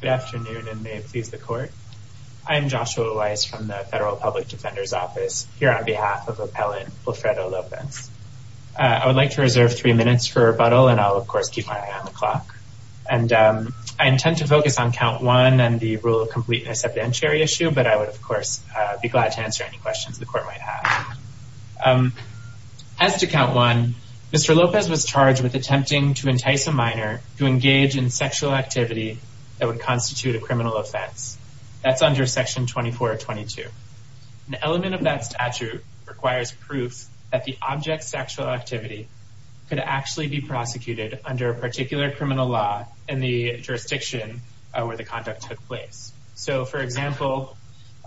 Good afternoon and may it please the court. I'm Joshua Weiss from the Federal Public Defender's Office here on behalf of Appellant Wilfredo Lopez. I would like to reserve three minutes for rebuttal and I'll of course keep my eye on the clock and I intend to focus on count one and the rule of completeness of the entire issue but I would of course be glad to answer any questions the court might have. As to count one, Mr. Lopez was charged with attempting to entice a minor to engage in sexual activity that would constitute a criminal offense. That's under section 2422. An element of that statute requires proof that the object's sexual activity could actually be prosecuted under a particular criminal law in the jurisdiction where the conduct took place. So for example,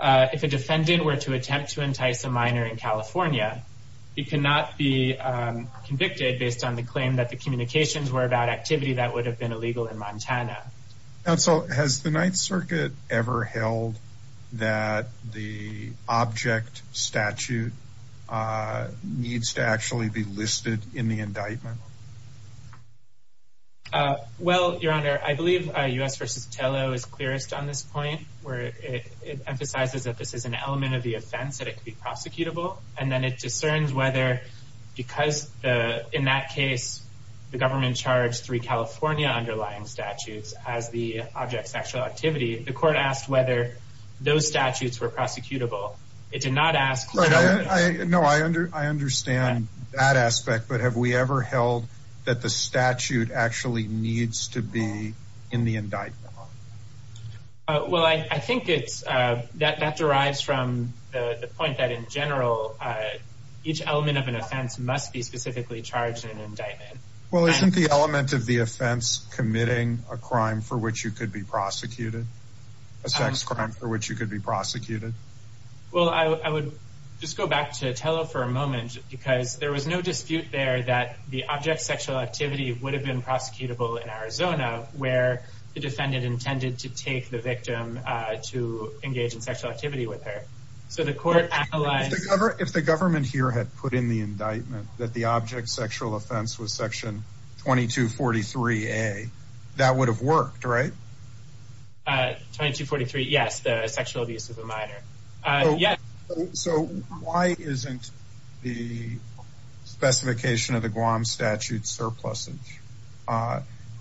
if a defendant were to attempt to entice a minor in California, he cannot be in Montana. Counsel, has the Ninth Circuit ever held that the object statute needs to actually be listed in the indictment? Well, your honor, I believe U.S. v. Tello is clearest on this point where it emphasizes that this is an element of the offense that it could be prosecutable and then it discerns whether because in that case the government charged three California underlying statutes as the object sexual activity, the court asked whether those statutes were prosecutable. It did not ask... No, I understand that aspect but have we ever held that the statute actually needs to be in the indictment? Well, I think that derives from the point that in general, each element of an offense must be specifically charged in an offense. Would you consider each element of the offense committing a crime for which you could be prosecuted? A sex crime for which you could be prosecuted? Well, I would just go back to Tello for a moment because there was no dispute there that the object sexual activity would have been prosecutable in Arizona where the defendant intended to take the victim to engage in sexual activity with her. So the court analyzed... If the government here had put in the indictment that the object sexual offense was section 2243A, that would have worked, right? 2243, yes, the sexual abuse of a minor. So why isn't the specification of the Guam statute surplusage?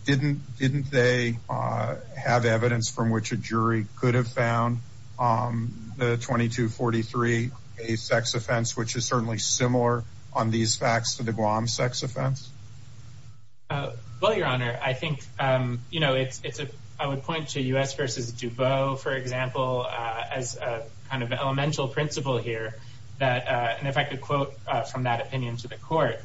Didn't they have evidence from which a jury could have found the 2243A sex offense which is certainly similar on these facts to the Guam sex offense? Well, your honor, I think it's... I would point to U.S. v. DuBose, for example, as a kind of elemental principle here that... And if I could quote from that opinion to the court,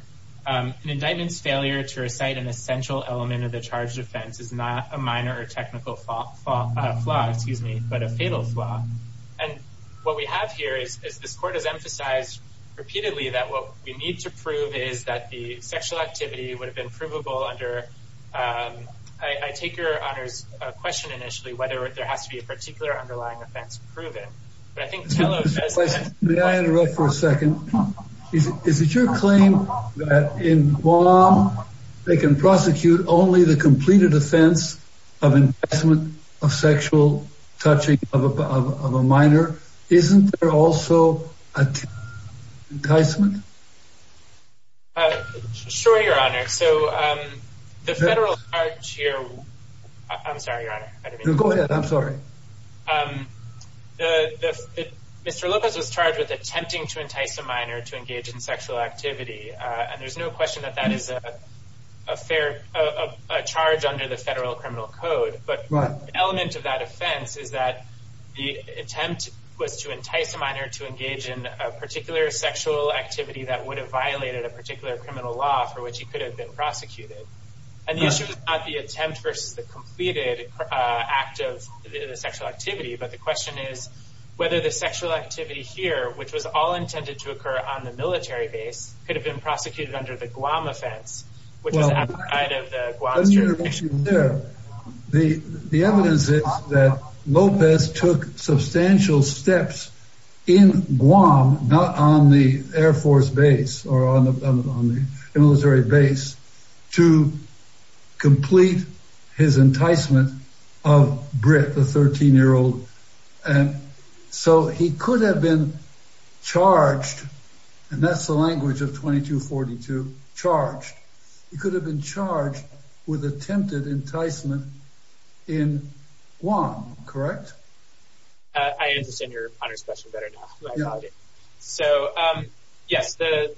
an indictment's failure to recite an essential element of the charged offense is not a minor or technical flaw, excuse me, but a fatal flaw. And what we have here is this court has emphasized repeatedly that what we need to prove is that the sexual activity would have been provable under... I take your honor's question initially whether there has to be a particular underlying offense proven, but I think... May I interrupt for a second? Is it your claim that in Guam they can prosecute only the completed offense of investment of sexual touching of a minor? Isn't there also an enticement? Sure, your honor. So the federal charge here... I'm sorry, your honor. Go ahead. I'm sorry. Mr. Lopez was charged with attempting to entice a minor to engage in sexual activity, and there's no question that that is a fair charge under the federal criminal code, but the element of that offense is that the attempt was to entice a minor to engage in a particular sexual activity that would have violated a particular criminal law for which he could have been prosecuted. And the issue is not the attempt versus the completed act of the sexual activity, but the question is whether the sexual activity here, which was all intended to occur on the military base, could have been prosecuted under the Guam Act. The evidence is that Lopez took substantial steps in Guam, not on the air force base or on the military base, to complete his enticement of Britt, the 13-year-old. And so he could have been charged with attempted enticement in Guam, correct? I understand your honor's question better now. So, yes, the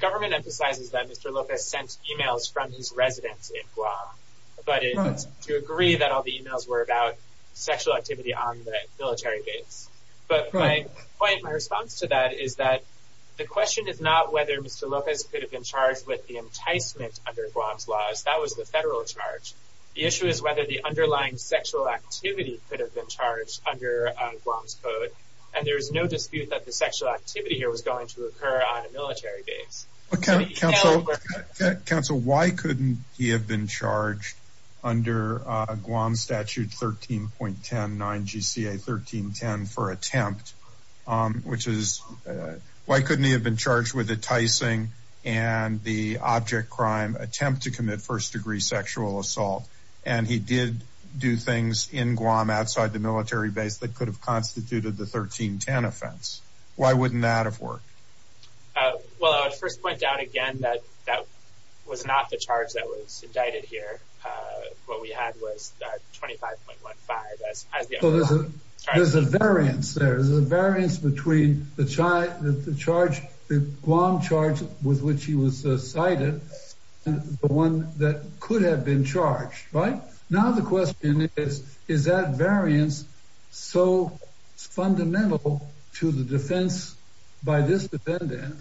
government emphasizes that Mr. Lopez sent emails from his residence in Guam to agree that all the emails were about sexual activity on the military base. But my point, my response to that is that the question is not whether Mr. Lopez could have been charged with the enticement under Guam's laws. That was a federal charge. The issue is whether the underlying sexual activity could have been charged under Guam's code. And there is no dispute that the sexual activity here was going to occur on a military base. Counsel, why couldn't he have been charged under Guam Statute 13.10, 9GCA 1310 for attempt, which is why couldn't he have been charged with enticing and the object crime attempt to commit first-degree sexual assault. And he did do things in Guam outside the military base that could have constituted the 1310 offense. Why wouldn't that have worked? Well, I would first point out again that that was not the charge that was indicted here. What we had was 25.15. There's a variance there. There's a variance between the Guam charge with which he was cited and the one that could have been charged, right? Now the question is, is that variance so fundamental to the defense by this defendant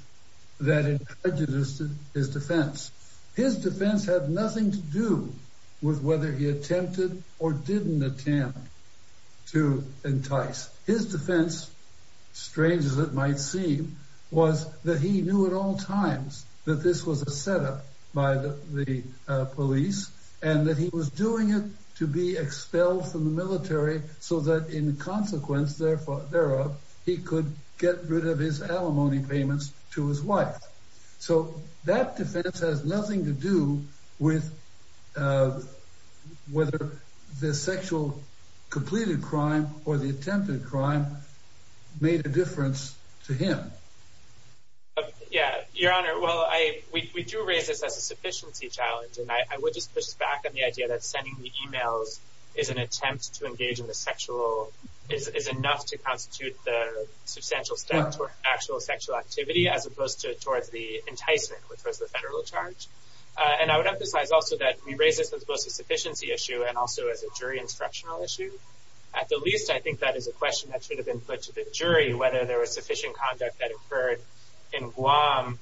that it prejudices his defense? His defense had nothing to do with whether he attempted or didn't attempt to entice. His defense, strange as it might seem, was that he knew at all times that this was a setup by the police and that he was doing it to be expelled from the military so that in consequence thereof he could get rid of his alimony payments to his wife. So that defense has nothing to do with whether the sexual completed crime or the attempted crime made a difference to him. Yeah, your honor. Well, we do raise this as a sufficiency challenge and I would just push back on the idea that sending the emails is an attempt to engage in the sexual, is enough to constitute the substantial step toward actual sexual activity as opposed to towards the enticement, which was the federal charge. And I would emphasize also that we raise this as a sufficiency issue and also as a jury instructional issue. At the least, I think that is a question that should have been put to the jury, whether there was sufficient conduct that occurred in Guam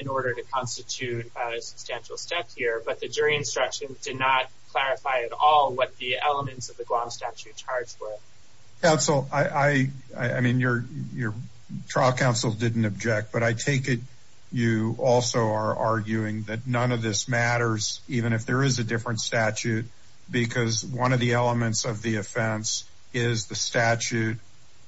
in order to constitute a substantial step here. But the jury instruction did not clarify at all what the elements of the Guam statute charged with. Counsel, I mean, your trial counsel didn't object, but I take it you also are arguing that none of this matters even if there is a different statute, because one of the elements of the offense is the statute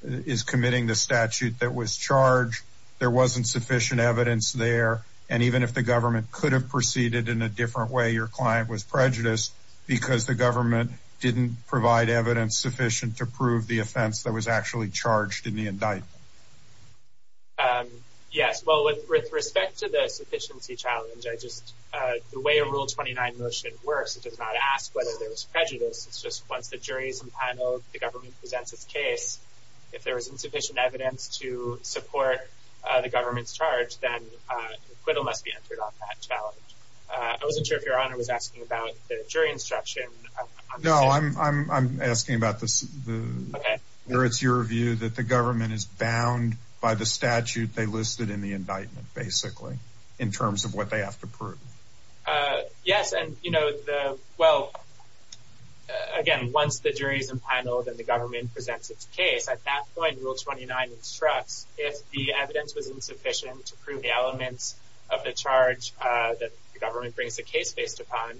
is committing the statute that was charged. There wasn't sufficient evidence there, and even if the government could have proceeded in a different way, your client was prejudiced because the government didn't provide evidence sufficient to prove the offense that was actually charged in the indictment. Yes, well, with respect to the sufficiency challenge, I just the way a rule 29 motion works, it does not ask whether there was prejudice. It's just once the jury's in panel, the government presents its case. If there is insufficient evidence to support the government's charge, then acquittal must be entered on that challenge. I wasn't sure if your honor was asking about the jury instruction. No, I'm asking about this. It's your view that the government is bound by the statute they listed in the indictment, basically, in terms of what they have to prove. Yes, and you know, well, again, once the jury's in panel, then the government presents its case. At that point, rule 29 instructs if the evidence was insufficient to prove the elements of the charge that the government brings a case based upon,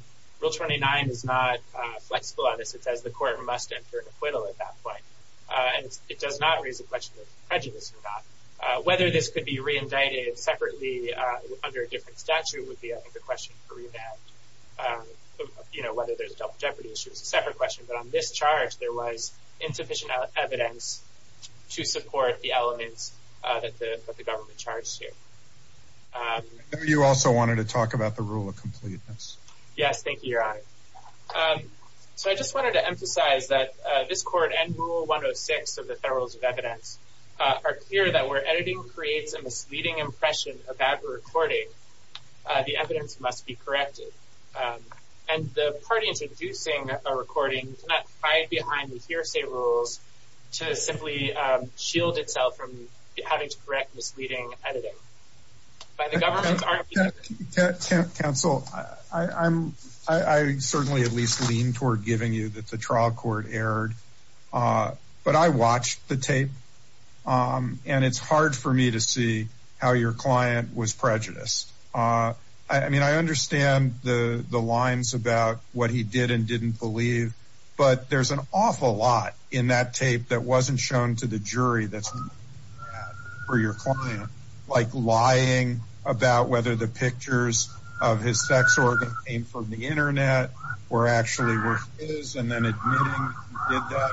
rule 29 is not flexible on this. It says the court must enter an acquittal at that point, and it does not raise the question of prejudice or not. Whether this could be re-indicted separately under a different statute would be, I think, a question for revamped. You know, whether there's double jeopardy issue is a separate question, but on this charge, there was insufficient evidence to support the elements that the government charged here. You also wanted to talk about the rule of completeness. Yes, thank you, your honor. So I just wanted to emphasize that this court and rule 106 of Federalist of Evidence are clear that where editing creates a misleading impression about the recording, the evidence must be corrected. And the party introducing a recording cannot hide behind the hearsay rules to simply shield itself from having to correct misleading editing. Counsel, I certainly at least lean toward giving you that the trial court erred, but I watched the tape, and it's hard for me to see how your client was prejudiced. I mean, I understand the lines about what he did and didn't believe, but there's an awful lot in that tape that wasn't shown to the jury that's for your client, like lying about whether the pictures of his sex organ came from the internet were actually his, and then admitting he did that.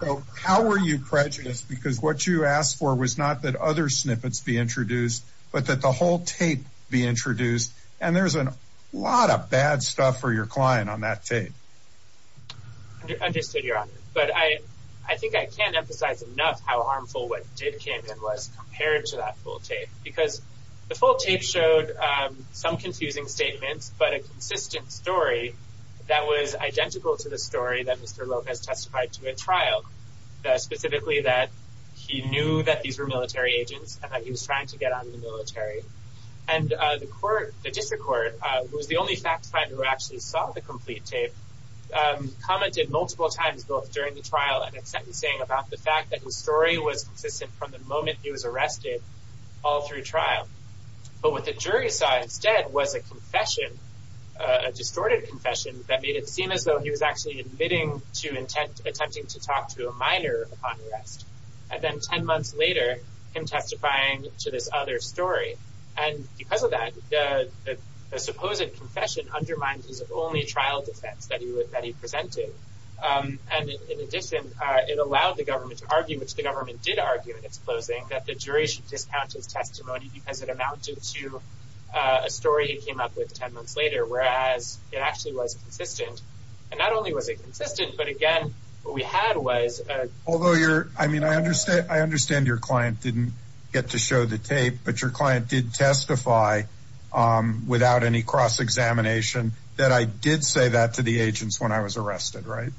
So how were you prejudiced? Because what you asked for was not that other snippets be introduced, but that the whole tape be introduced, and there's a lot of bad stuff for your client on that tape. Understood, your honor. But I think I can't emphasize enough how harmful what did came in was compared to that full tape, because the full tape showed some confusing statements, but a consistent story that was identical to the story that Mr. Lopez testified to in trial, specifically that he knew that these were military agents and that he was trying to get out of the military. And the court, the district court, who was the only fact finder who actually saw the complete tape, commented multiple times both during the trial and at sentencing about the fact that his story was consistent from the moment he was arrested all through trial. But what the jury saw instead was a confession, a distorted confession that made it seem as though he was actually admitting to attempting to talk to a minor upon arrest. And then 10 months later, him testifying to this other story. And because of that, the supposed confession undermined his only trial defense that he presented. And in addition, it allowed the government to argue, which the government did argue in its closing, that the jury should discount his testimony because it amounted to a story he came up with 10 months later, whereas it actually was consistent. And not only was it consistent, but again, what we had was... Although you're, I mean, I understand your client didn't get to show the tape, but your client did testify without any cross-examination that I did say that to the agents when I was arrested, right?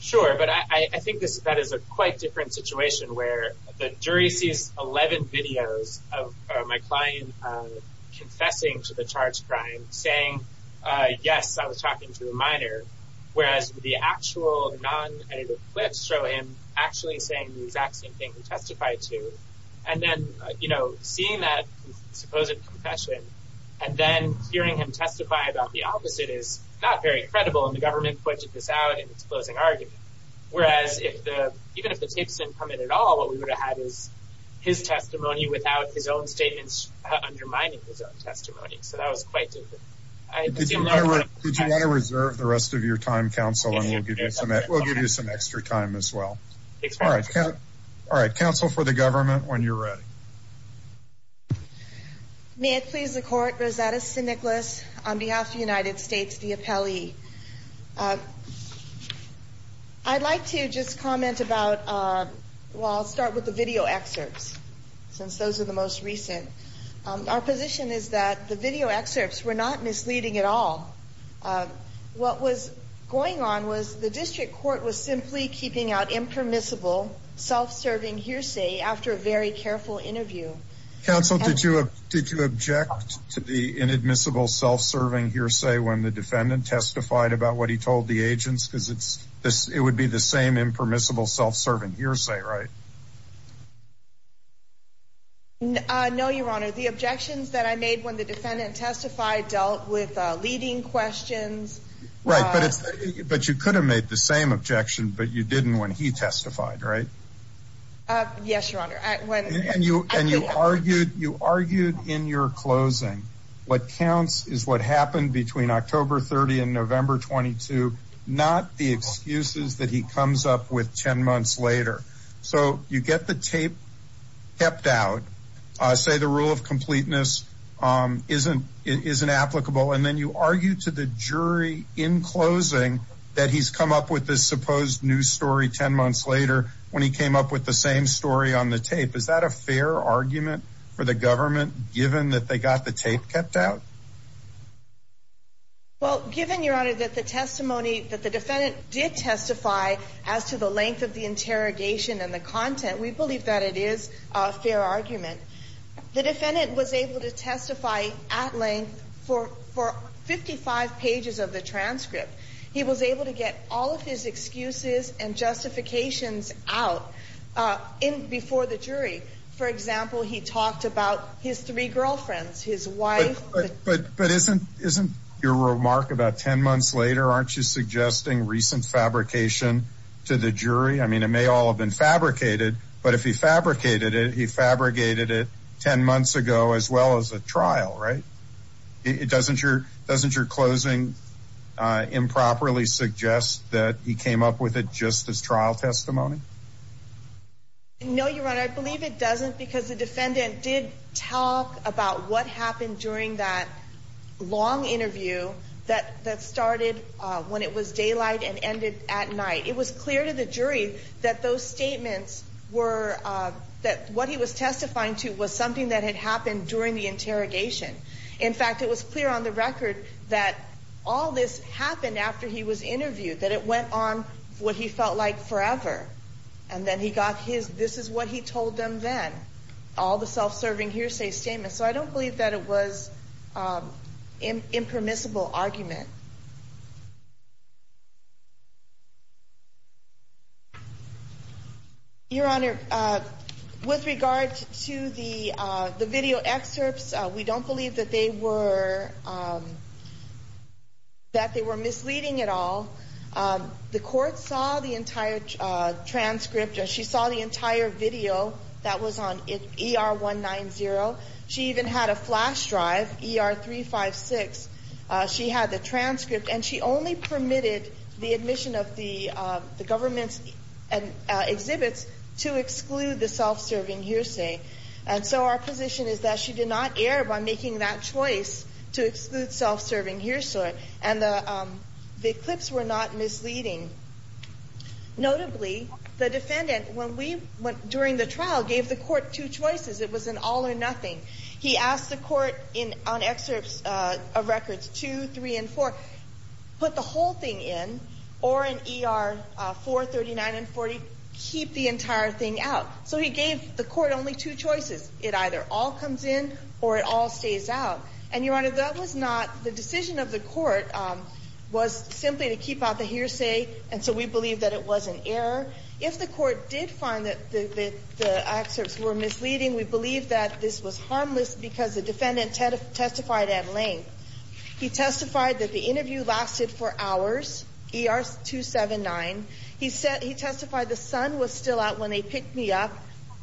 Sure. But I think that is a quite different situation where the jury sees 11 videos of my client confessing to the charged crime saying, yes, I was talking to a minor, whereas the actual non-edited clips show him actually saying the exact same thing he testified to. And then, you know, seeing that supposed confession and then hearing him testify about the opposite is not very credible. And the government pointed this out in his testimony without his own statements undermining his own testimony. So that was quite different. Did you want to reserve the rest of your time, counsel, and we'll give you some extra time as well. All right. Counsel for the government, when you're ready. May it please the court, Rosetta St. Nicholas, on behalf of the United States, the appellee. I'd like to just comment about, well, I'll start with the video excerpts since those are the most recent. Our position is that the video excerpts were not misleading at all. What was going on was the district court was simply keeping out impermissible self-serving hearsay after a very careful interview. Counsel, did you object to the inadmissible self-serving hearsay when the defendant testified about what he told the agents? Because it would be the same impermissible self-serving hearsay, right? No, your honor. The objections that I made when the defendant testified dealt with leading questions. Right. But you could have made the same objection, but you didn't when he testified, right? Yes, your honor. And you argued in your closing, what counts is what happened between October 30 and November 22, not the excuses that he comes up with 10 months later. So you get the tape kept out, say the rule of completeness isn't applicable, and then you argue to the jury in closing that he's come up with this supposed new story 10 months later when he came up with the same story on the tape. Is that a fair argument for the tape kept out? Well, given your honor that the testimony that the defendant did testify as to the length of the interrogation and the content, we believe that it is a fair argument. The defendant was able to testify at length for 55 pages of the transcript. He was able to get all of his excuses and justifications out before the jury. For example, he talked about his three girlfriends, his wife. But isn't your remark about 10 months later, aren't you suggesting recent fabrication to the jury? I mean, it may all have been fabricated, but if he fabricated it, he fabricated it 10 months ago as well as a trial, right? Doesn't your closing improperly suggest that he came up with it just as trial testimony? No, your honor. I believe it doesn't because the defendant did talk about what happened during that long interview that that started when it was daylight and ended at night. It was clear to the jury that those statements were that what he was testifying to was something that had happened during the interrogation. In fact, it was clear on the record that all this happened after he was interviewed, that it went on what he felt like forever. And then he got his, this is what he told them then. All the self-serving hearsay statements. So I don't believe that it was impermissible argument. Your honor, with regard to the video excerpts, we don't believe that they were misleading at all. The court saw the entire transcript. She saw the entire video that was on ER-190. She even had a flash drive, ER-356. She had the transcript and she only permitted the admission of the government's exhibits to exclude the self-serving hearsay. And so our position is that she did not err by making that choice to exclude self-serving hearsay. And the clips were not misleading. Notably, the defendant, when we went during the trial, gave the court two choices. It was an all or nothing. He asked the court on excerpts of records two, three, and four, put the whole thing in or in ER-439 and 40, keep the entire thing out. So he gave the court only two choices. It either all comes in or it all stays out. And the decision of the court was simply to keep out the hearsay, and so we believe that it was an error. If the court did find that the excerpts were misleading, we believe that this was harmless because the defendant testified at length. He testified that the interview lasted for hours, ER-279. He testified the sun was still out when they picked me up,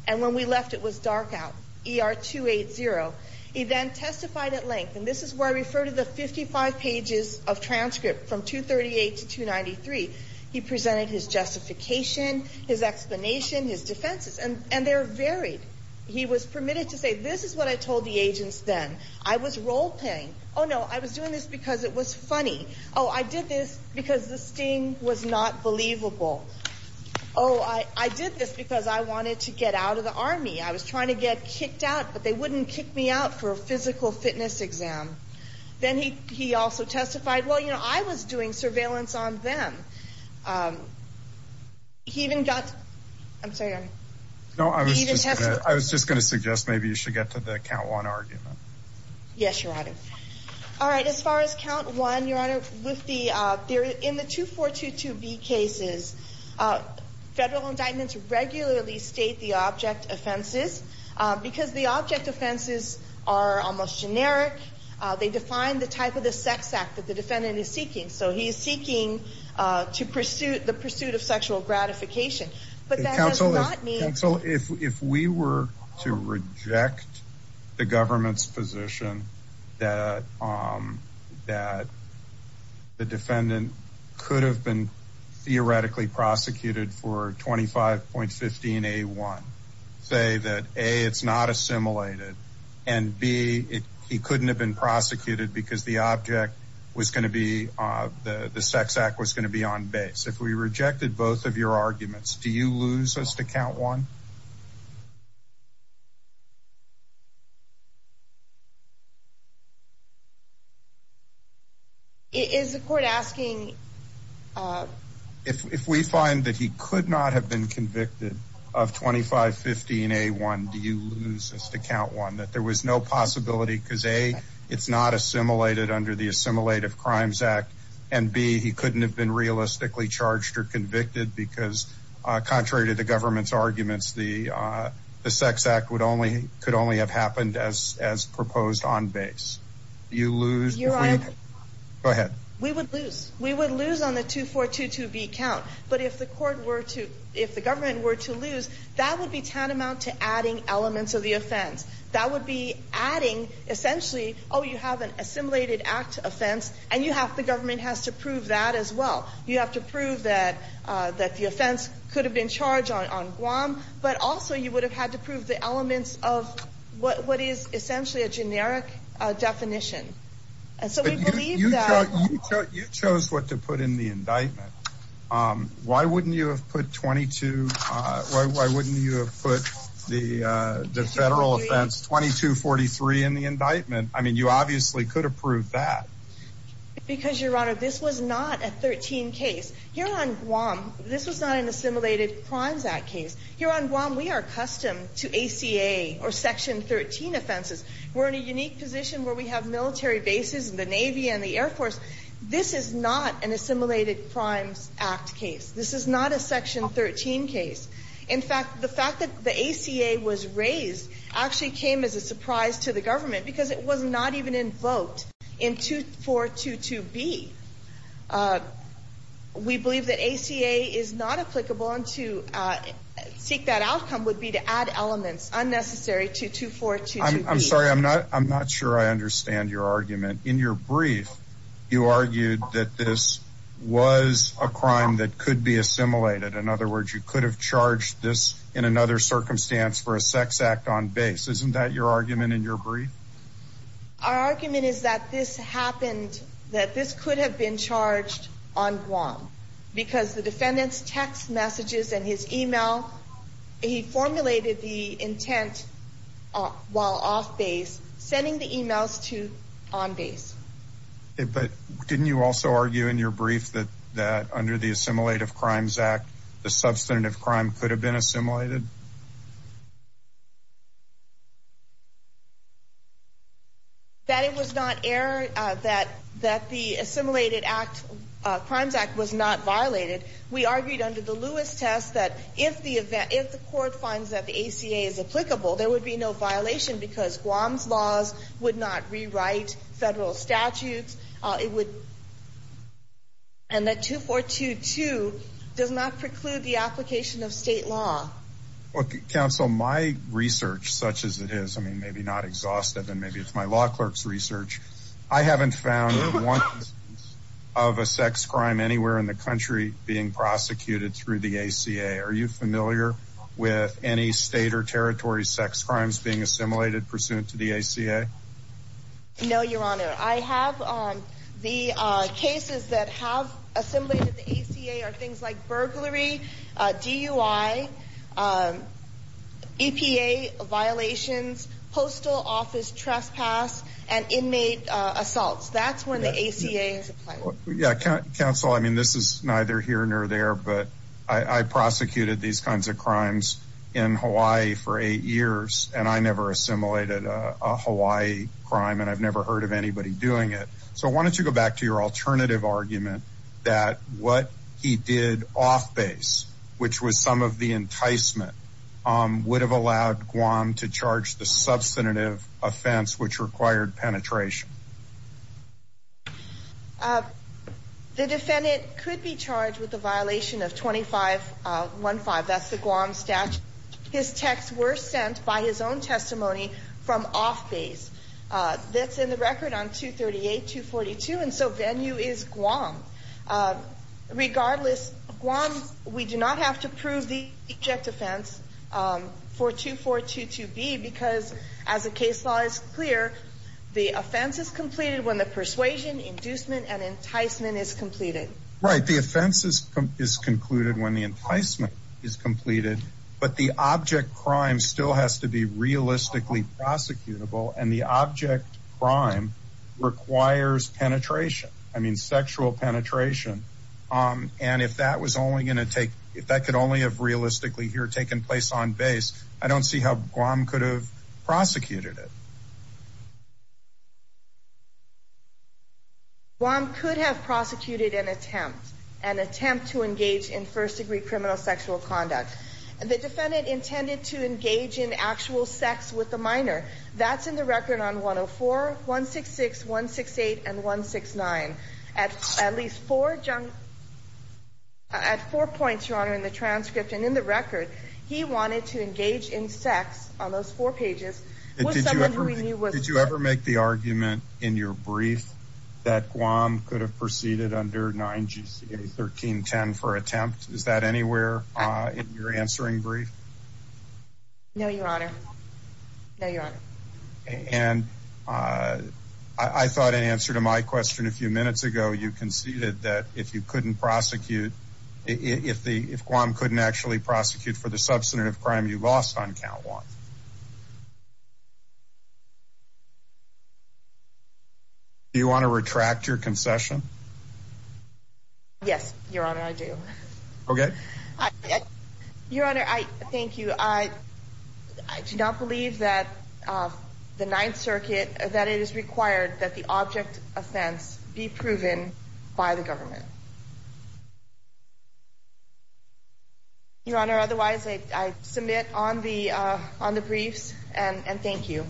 and when we left it was dark out, ER-280. He then referred to the 55 pages of transcript from 238 to 293. He presented his justification, his explanation, his defenses, and they're varied. He was permitted to say, this is what I told the agents then. I was role-playing. Oh, no, I was doing this because it was funny. Oh, I did this because the sting was not believable. Oh, I did this because I wanted to get out of the Army. I was trying to get kicked out, but they wouldn't kick me out for a physical fitness exam. Then he also testified, well, you know, I was doing surveillance on them. He even got, I'm sorry, I was just going to suggest maybe you should get to the count one argument. Yes, Your Honor. All right, as far as count one, Your Honor, with the, in the 2422B cases, federal indictments regularly state the object offenses because the object offenses are almost generic. They define the type of the sex act that the defendant is seeking. So he's seeking to pursue the pursuit of sexual gratification, but that does not mean... Counsel, if we were to reject the government's position that the defendant could have been theoretically prosecuted for 25.15A1, say that A, it's not assimilated, and B, he couldn't have been prosecuted because the object was going to be, the sex act was going to be on base. If we rejected both of your arguments, do you lose us to count one? Is the court asking... If we find that he could not have been convicted of 25.15A1, do you lose us to count one? That there was no possibility because A, it's not assimilated under the Assimilative Crimes Act, and B, he couldn't have been realistically charged or convicted because contrary to the government's arguments, the sex act could only have happened as proposed on base. Do you lose... Your Honor... Go ahead. We would lose. We would lose on the 2422B count, but if the government were to lose, that would be tantamount to adding elements of the offense. That would be adding, essentially, oh, you have an assimilated act offense, and the government has to prove that as well. You have to prove that the offense could have been charged on Guam, but also you would have had to prove the elements of what is essentially a generic definition. And so we believe that... You chose what to put in the indictment. Why wouldn't you have put 22... Why wouldn't you have put the federal offense 2243 in the indictment? I mean, you obviously could have proved that. Because, Your Honor, this was not a 13 case. Here on Guam, this was not an Assimilated Crimes Act case. Here on Guam, we are accustomed to ACA or Section 13 offenses. We're in a unique position where we have military bases, the Navy and the Air Force. This is not an Assimilated Crimes Act case. This is not a Section 13 case. In fact, the fact that the ACA was raised actually came as a surprise to the government because it was not even invoked in 2422B. We believe that ACA is not applicable, and to seek that outcome would be to add elements unnecessary to 2422B. I'm sorry. I'm not sure I understand your argument. In your brief, you argued that this was a crime that could be assimilated. In other words, you could have charged this in another circumstance for a sex act on base. Isn't that your argument in your brief? Our argument is that this happened, that this could have been charged on Guam because the defendant's text messages and his email, he formulated the intent while off base, sending the emails to on base. But didn't you also argue in your brief that under the Assimilated Crimes Act, the substantive crime could have been assimilated? That it was not error, that the Assimilated Crimes Act was not violated. We argued under the Lewis test that if the court finds that the ACA is applicable, there would be no violation because Guam's laws would not rewrite federal statutes. And that 2422B is not applicable and 2422 does not preclude the application of state law. Counsel, my research, such as it is, I mean, maybe not exhaustive and maybe it's my law clerk's research. I haven't found one of a sex crime anywhere in the country being prosecuted through the ACA. Are you familiar with any state or territory sex crimes being assimilated pursuant to the ACA? No, no. I mean, the ACA are things like burglary, DUI, EPA violations, postal office trespass and inmate assaults. That's when the ACA is applicable. Yeah, counsel, I mean, this is neither here nor there, but I prosecuted these kinds of crimes in Hawaii for eight years and I never assimilated a Hawaii crime and I've never heard of anybody doing it. So why do you think that he did off base, which was some of the enticement, would have allowed Guam to charge the substantive offense which required penetration? The defendant could be charged with the violation of 2515. That's the Guam statute. His texts were sent by his own testimony from off base. That's in the record on 238-242 and so venue is Guam. Regardless, Guam, we do not have to prove the object offense for 2422B because as the case law is clear, the offense is completed when the persuasion, inducement and enticement is completed. Right, the offense is concluded when the enticement is completed, but the object crime still has to be realistically prosecutable and the object crime requires penetration. I mean, sexual penetration. And if that was only going to take, if that could only have realistically here taken place on base, I don't see how Guam could have prosecuted it. Guam could have prosecuted an attempt, an attempt to engage in first degree criminal sexual conduct. The defendant intended to engage in first degree criminal sexual conduct. That's in the record on 104-166-168 and 169. At least four points, your honor, in the transcript and in the record, he wanted to engage in sex on those four pages. Did you ever make the argument in your brief that Guam could have proceeded under 9GCA-1310 for attempt? Is that anywhere in your answering brief? No, your honor. No, your honor. And I thought in answer to my question a few minutes ago, you conceded that if you couldn't prosecute, if Guam couldn't actually prosecute for the substantive crime you lost on count one, do you want to retract your concession? Yes, your honor, I do. Okay. Your honor, thank you. I do not believe that the Ninth Circuit, that it is required that the object offense be proven by the government. Your honor, otherwise, I submit on the briefs and thank you.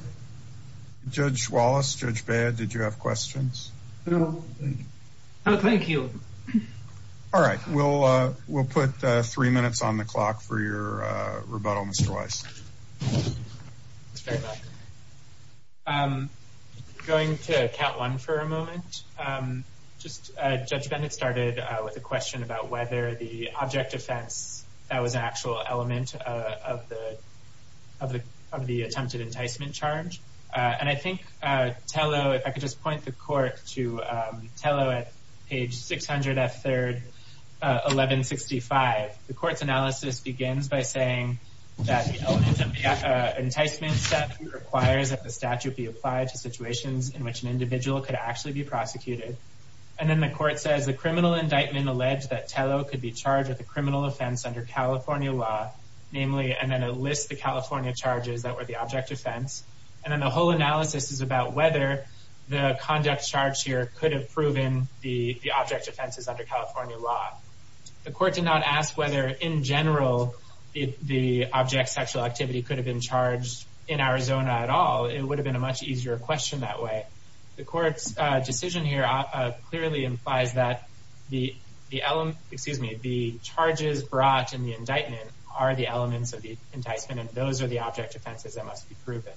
Judge Wallace, Judge Baird, did you have questions? No, thank you. No, thank you. All right, we'll put three minutes on the clock for your rebuttal, Mr. Weiss. Going to count one for a moment. Just Judge Bennett started with a question about whether the object offense, that was an actual element of the attempted enticement charge. And I think Tello, if I could just point the court to Tello at page 600 F3, 1165. The court's analysis begins by saying that the element of the enticement statute requires that the statute be applied to situations in which an individual could actually be prosecuted. And then the court says the criminal indictment alleged that Tello could be charged with a criminal offense under California law, namely, and then a list of California charges that were the object offense. And then the whole analysis is about whether the conduct charge here could have proven the object offenses under California law. The court did not ask whether in general, the object sexual activity could have been charged in Arizona at all. It would have been a much easier question that way. The court's decision here clearly implies that the element, excuse me, the charges brought in the indictment are the elements of the enticement, and those are the object offenses that must be proven.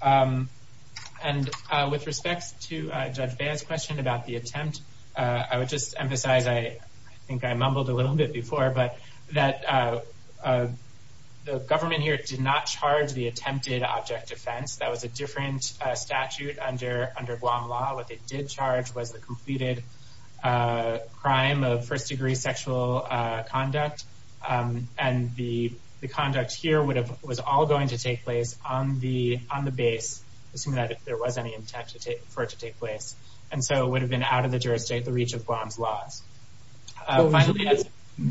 And with respect to Judge Baez' question about the attempt, I would just emphasize, I think I mumbled a little bit before, but that the government here did not charge the attempted object offense. That was a different statute under Guam law. What they did charge was the was all going to take place on the base, assuming that there was any intent for it to take place. And so it would have been out of the jurisdiction, the reach of Guam's laws.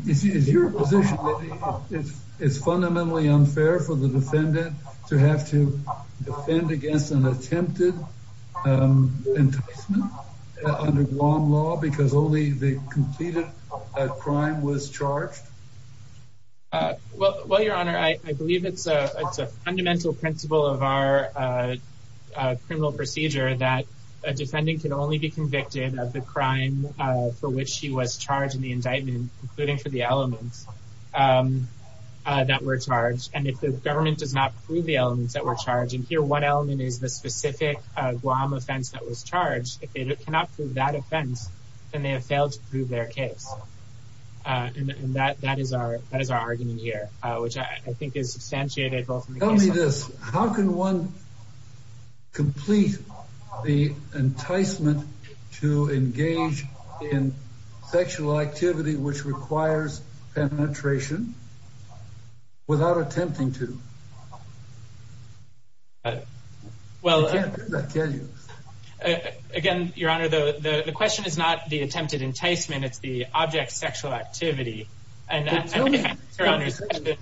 Is your position that it's fundamentally unfair for the defendant to have to defend against an attempted enticement under Guam law because only the completed crime was charged? Well, Your Honor, I believe it's a fundamental principle of our criminal procedure that a defendant can only be convicted of the crime for which she was charged in the indictment, including for the elements that were charged. And if the government does not prove the elements that were charged, and here one element is the specific Guam offense that was charged, if they cannot prove that offense, then they have failed to prove their case. And that is our argument here, which I think is substantiated both in the case law and in the indictment. Tell me this, how can one complete the enticement to engage in sexual activity which requires penetration without attempting to? Again, Your Honor, the question is not the attempted enticement, it's the object sexual activity. Tell me, isn't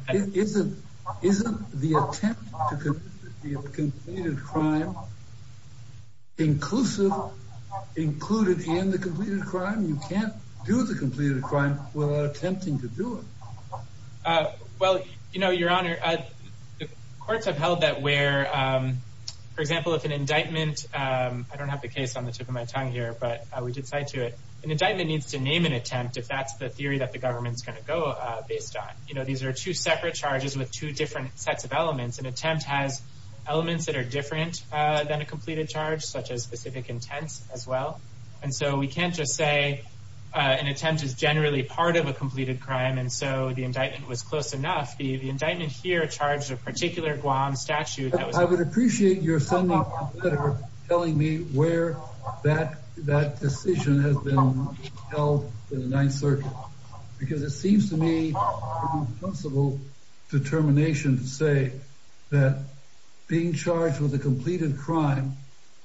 the attempt to complete the crime inclusive, included in the completed crime? You can't do the completed crime without attempting to do it. Well, Your Honor, the courts have held that where, for example, if an indictment, I don't have the case on the tip of my tongue here, but we did cite to it. An indictment needs to name an attempt if that's the theory that the government's going to go based on. These are two separate charges with two different sets of elements. An attempt has elements that are different than a completed charge, such as specific intents as well. And so we can't just say an attempt is generally part of a completed crime. And so the indictment was close enough. The indictment here charged a particular Guam statute. I would appreciate your sending a letter telling me where that decision has been held in the Ninth Circuit. Because it seems to me an impossible determination to say that being charged with a completed crime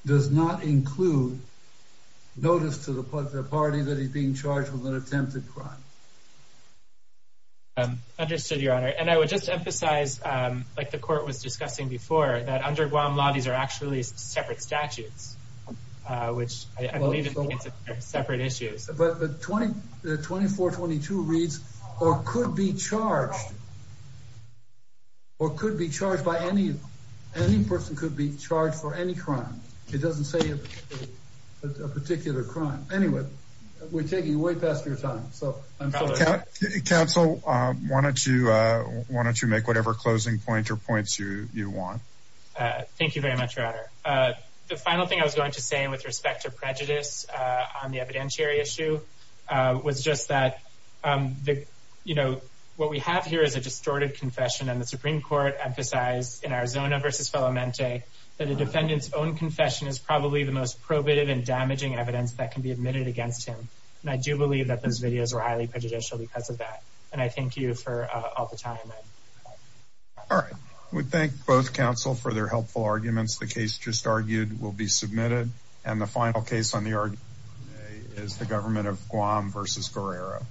does not include notice to the party that he's being charged with an attempted crime. Understood, Your Honor. And I would just emphasize, like the court was discussing before, that under Guam law, these are actually separate statutes, which I believe are separate issues. But 2422 reads, or could be charged, or could be charged by any person, could be charged for any crime. It doesn't say a particular crime. Anyway, we're taking way past your time. Counsel, why don't you make whatever closing point or points you want. Thank you very much, Your Honor. The final thing I was going to say, with respect to prejudice on the evidentiary issue, was just that what we have here is a distorted confession. And the Supreme Court emphasized in Arizona v. Felamente that a defendant's own confession is probably the most probative and damaging evidence that can be admitted against him. And I do believe that those videos were highly prejudicial because of that. And I thank you for all the time. All right. We thank both counsel for their helpful arguments. The case just argued will be submitted. And the final case on the argument today is the government of Guam v. Guerrero.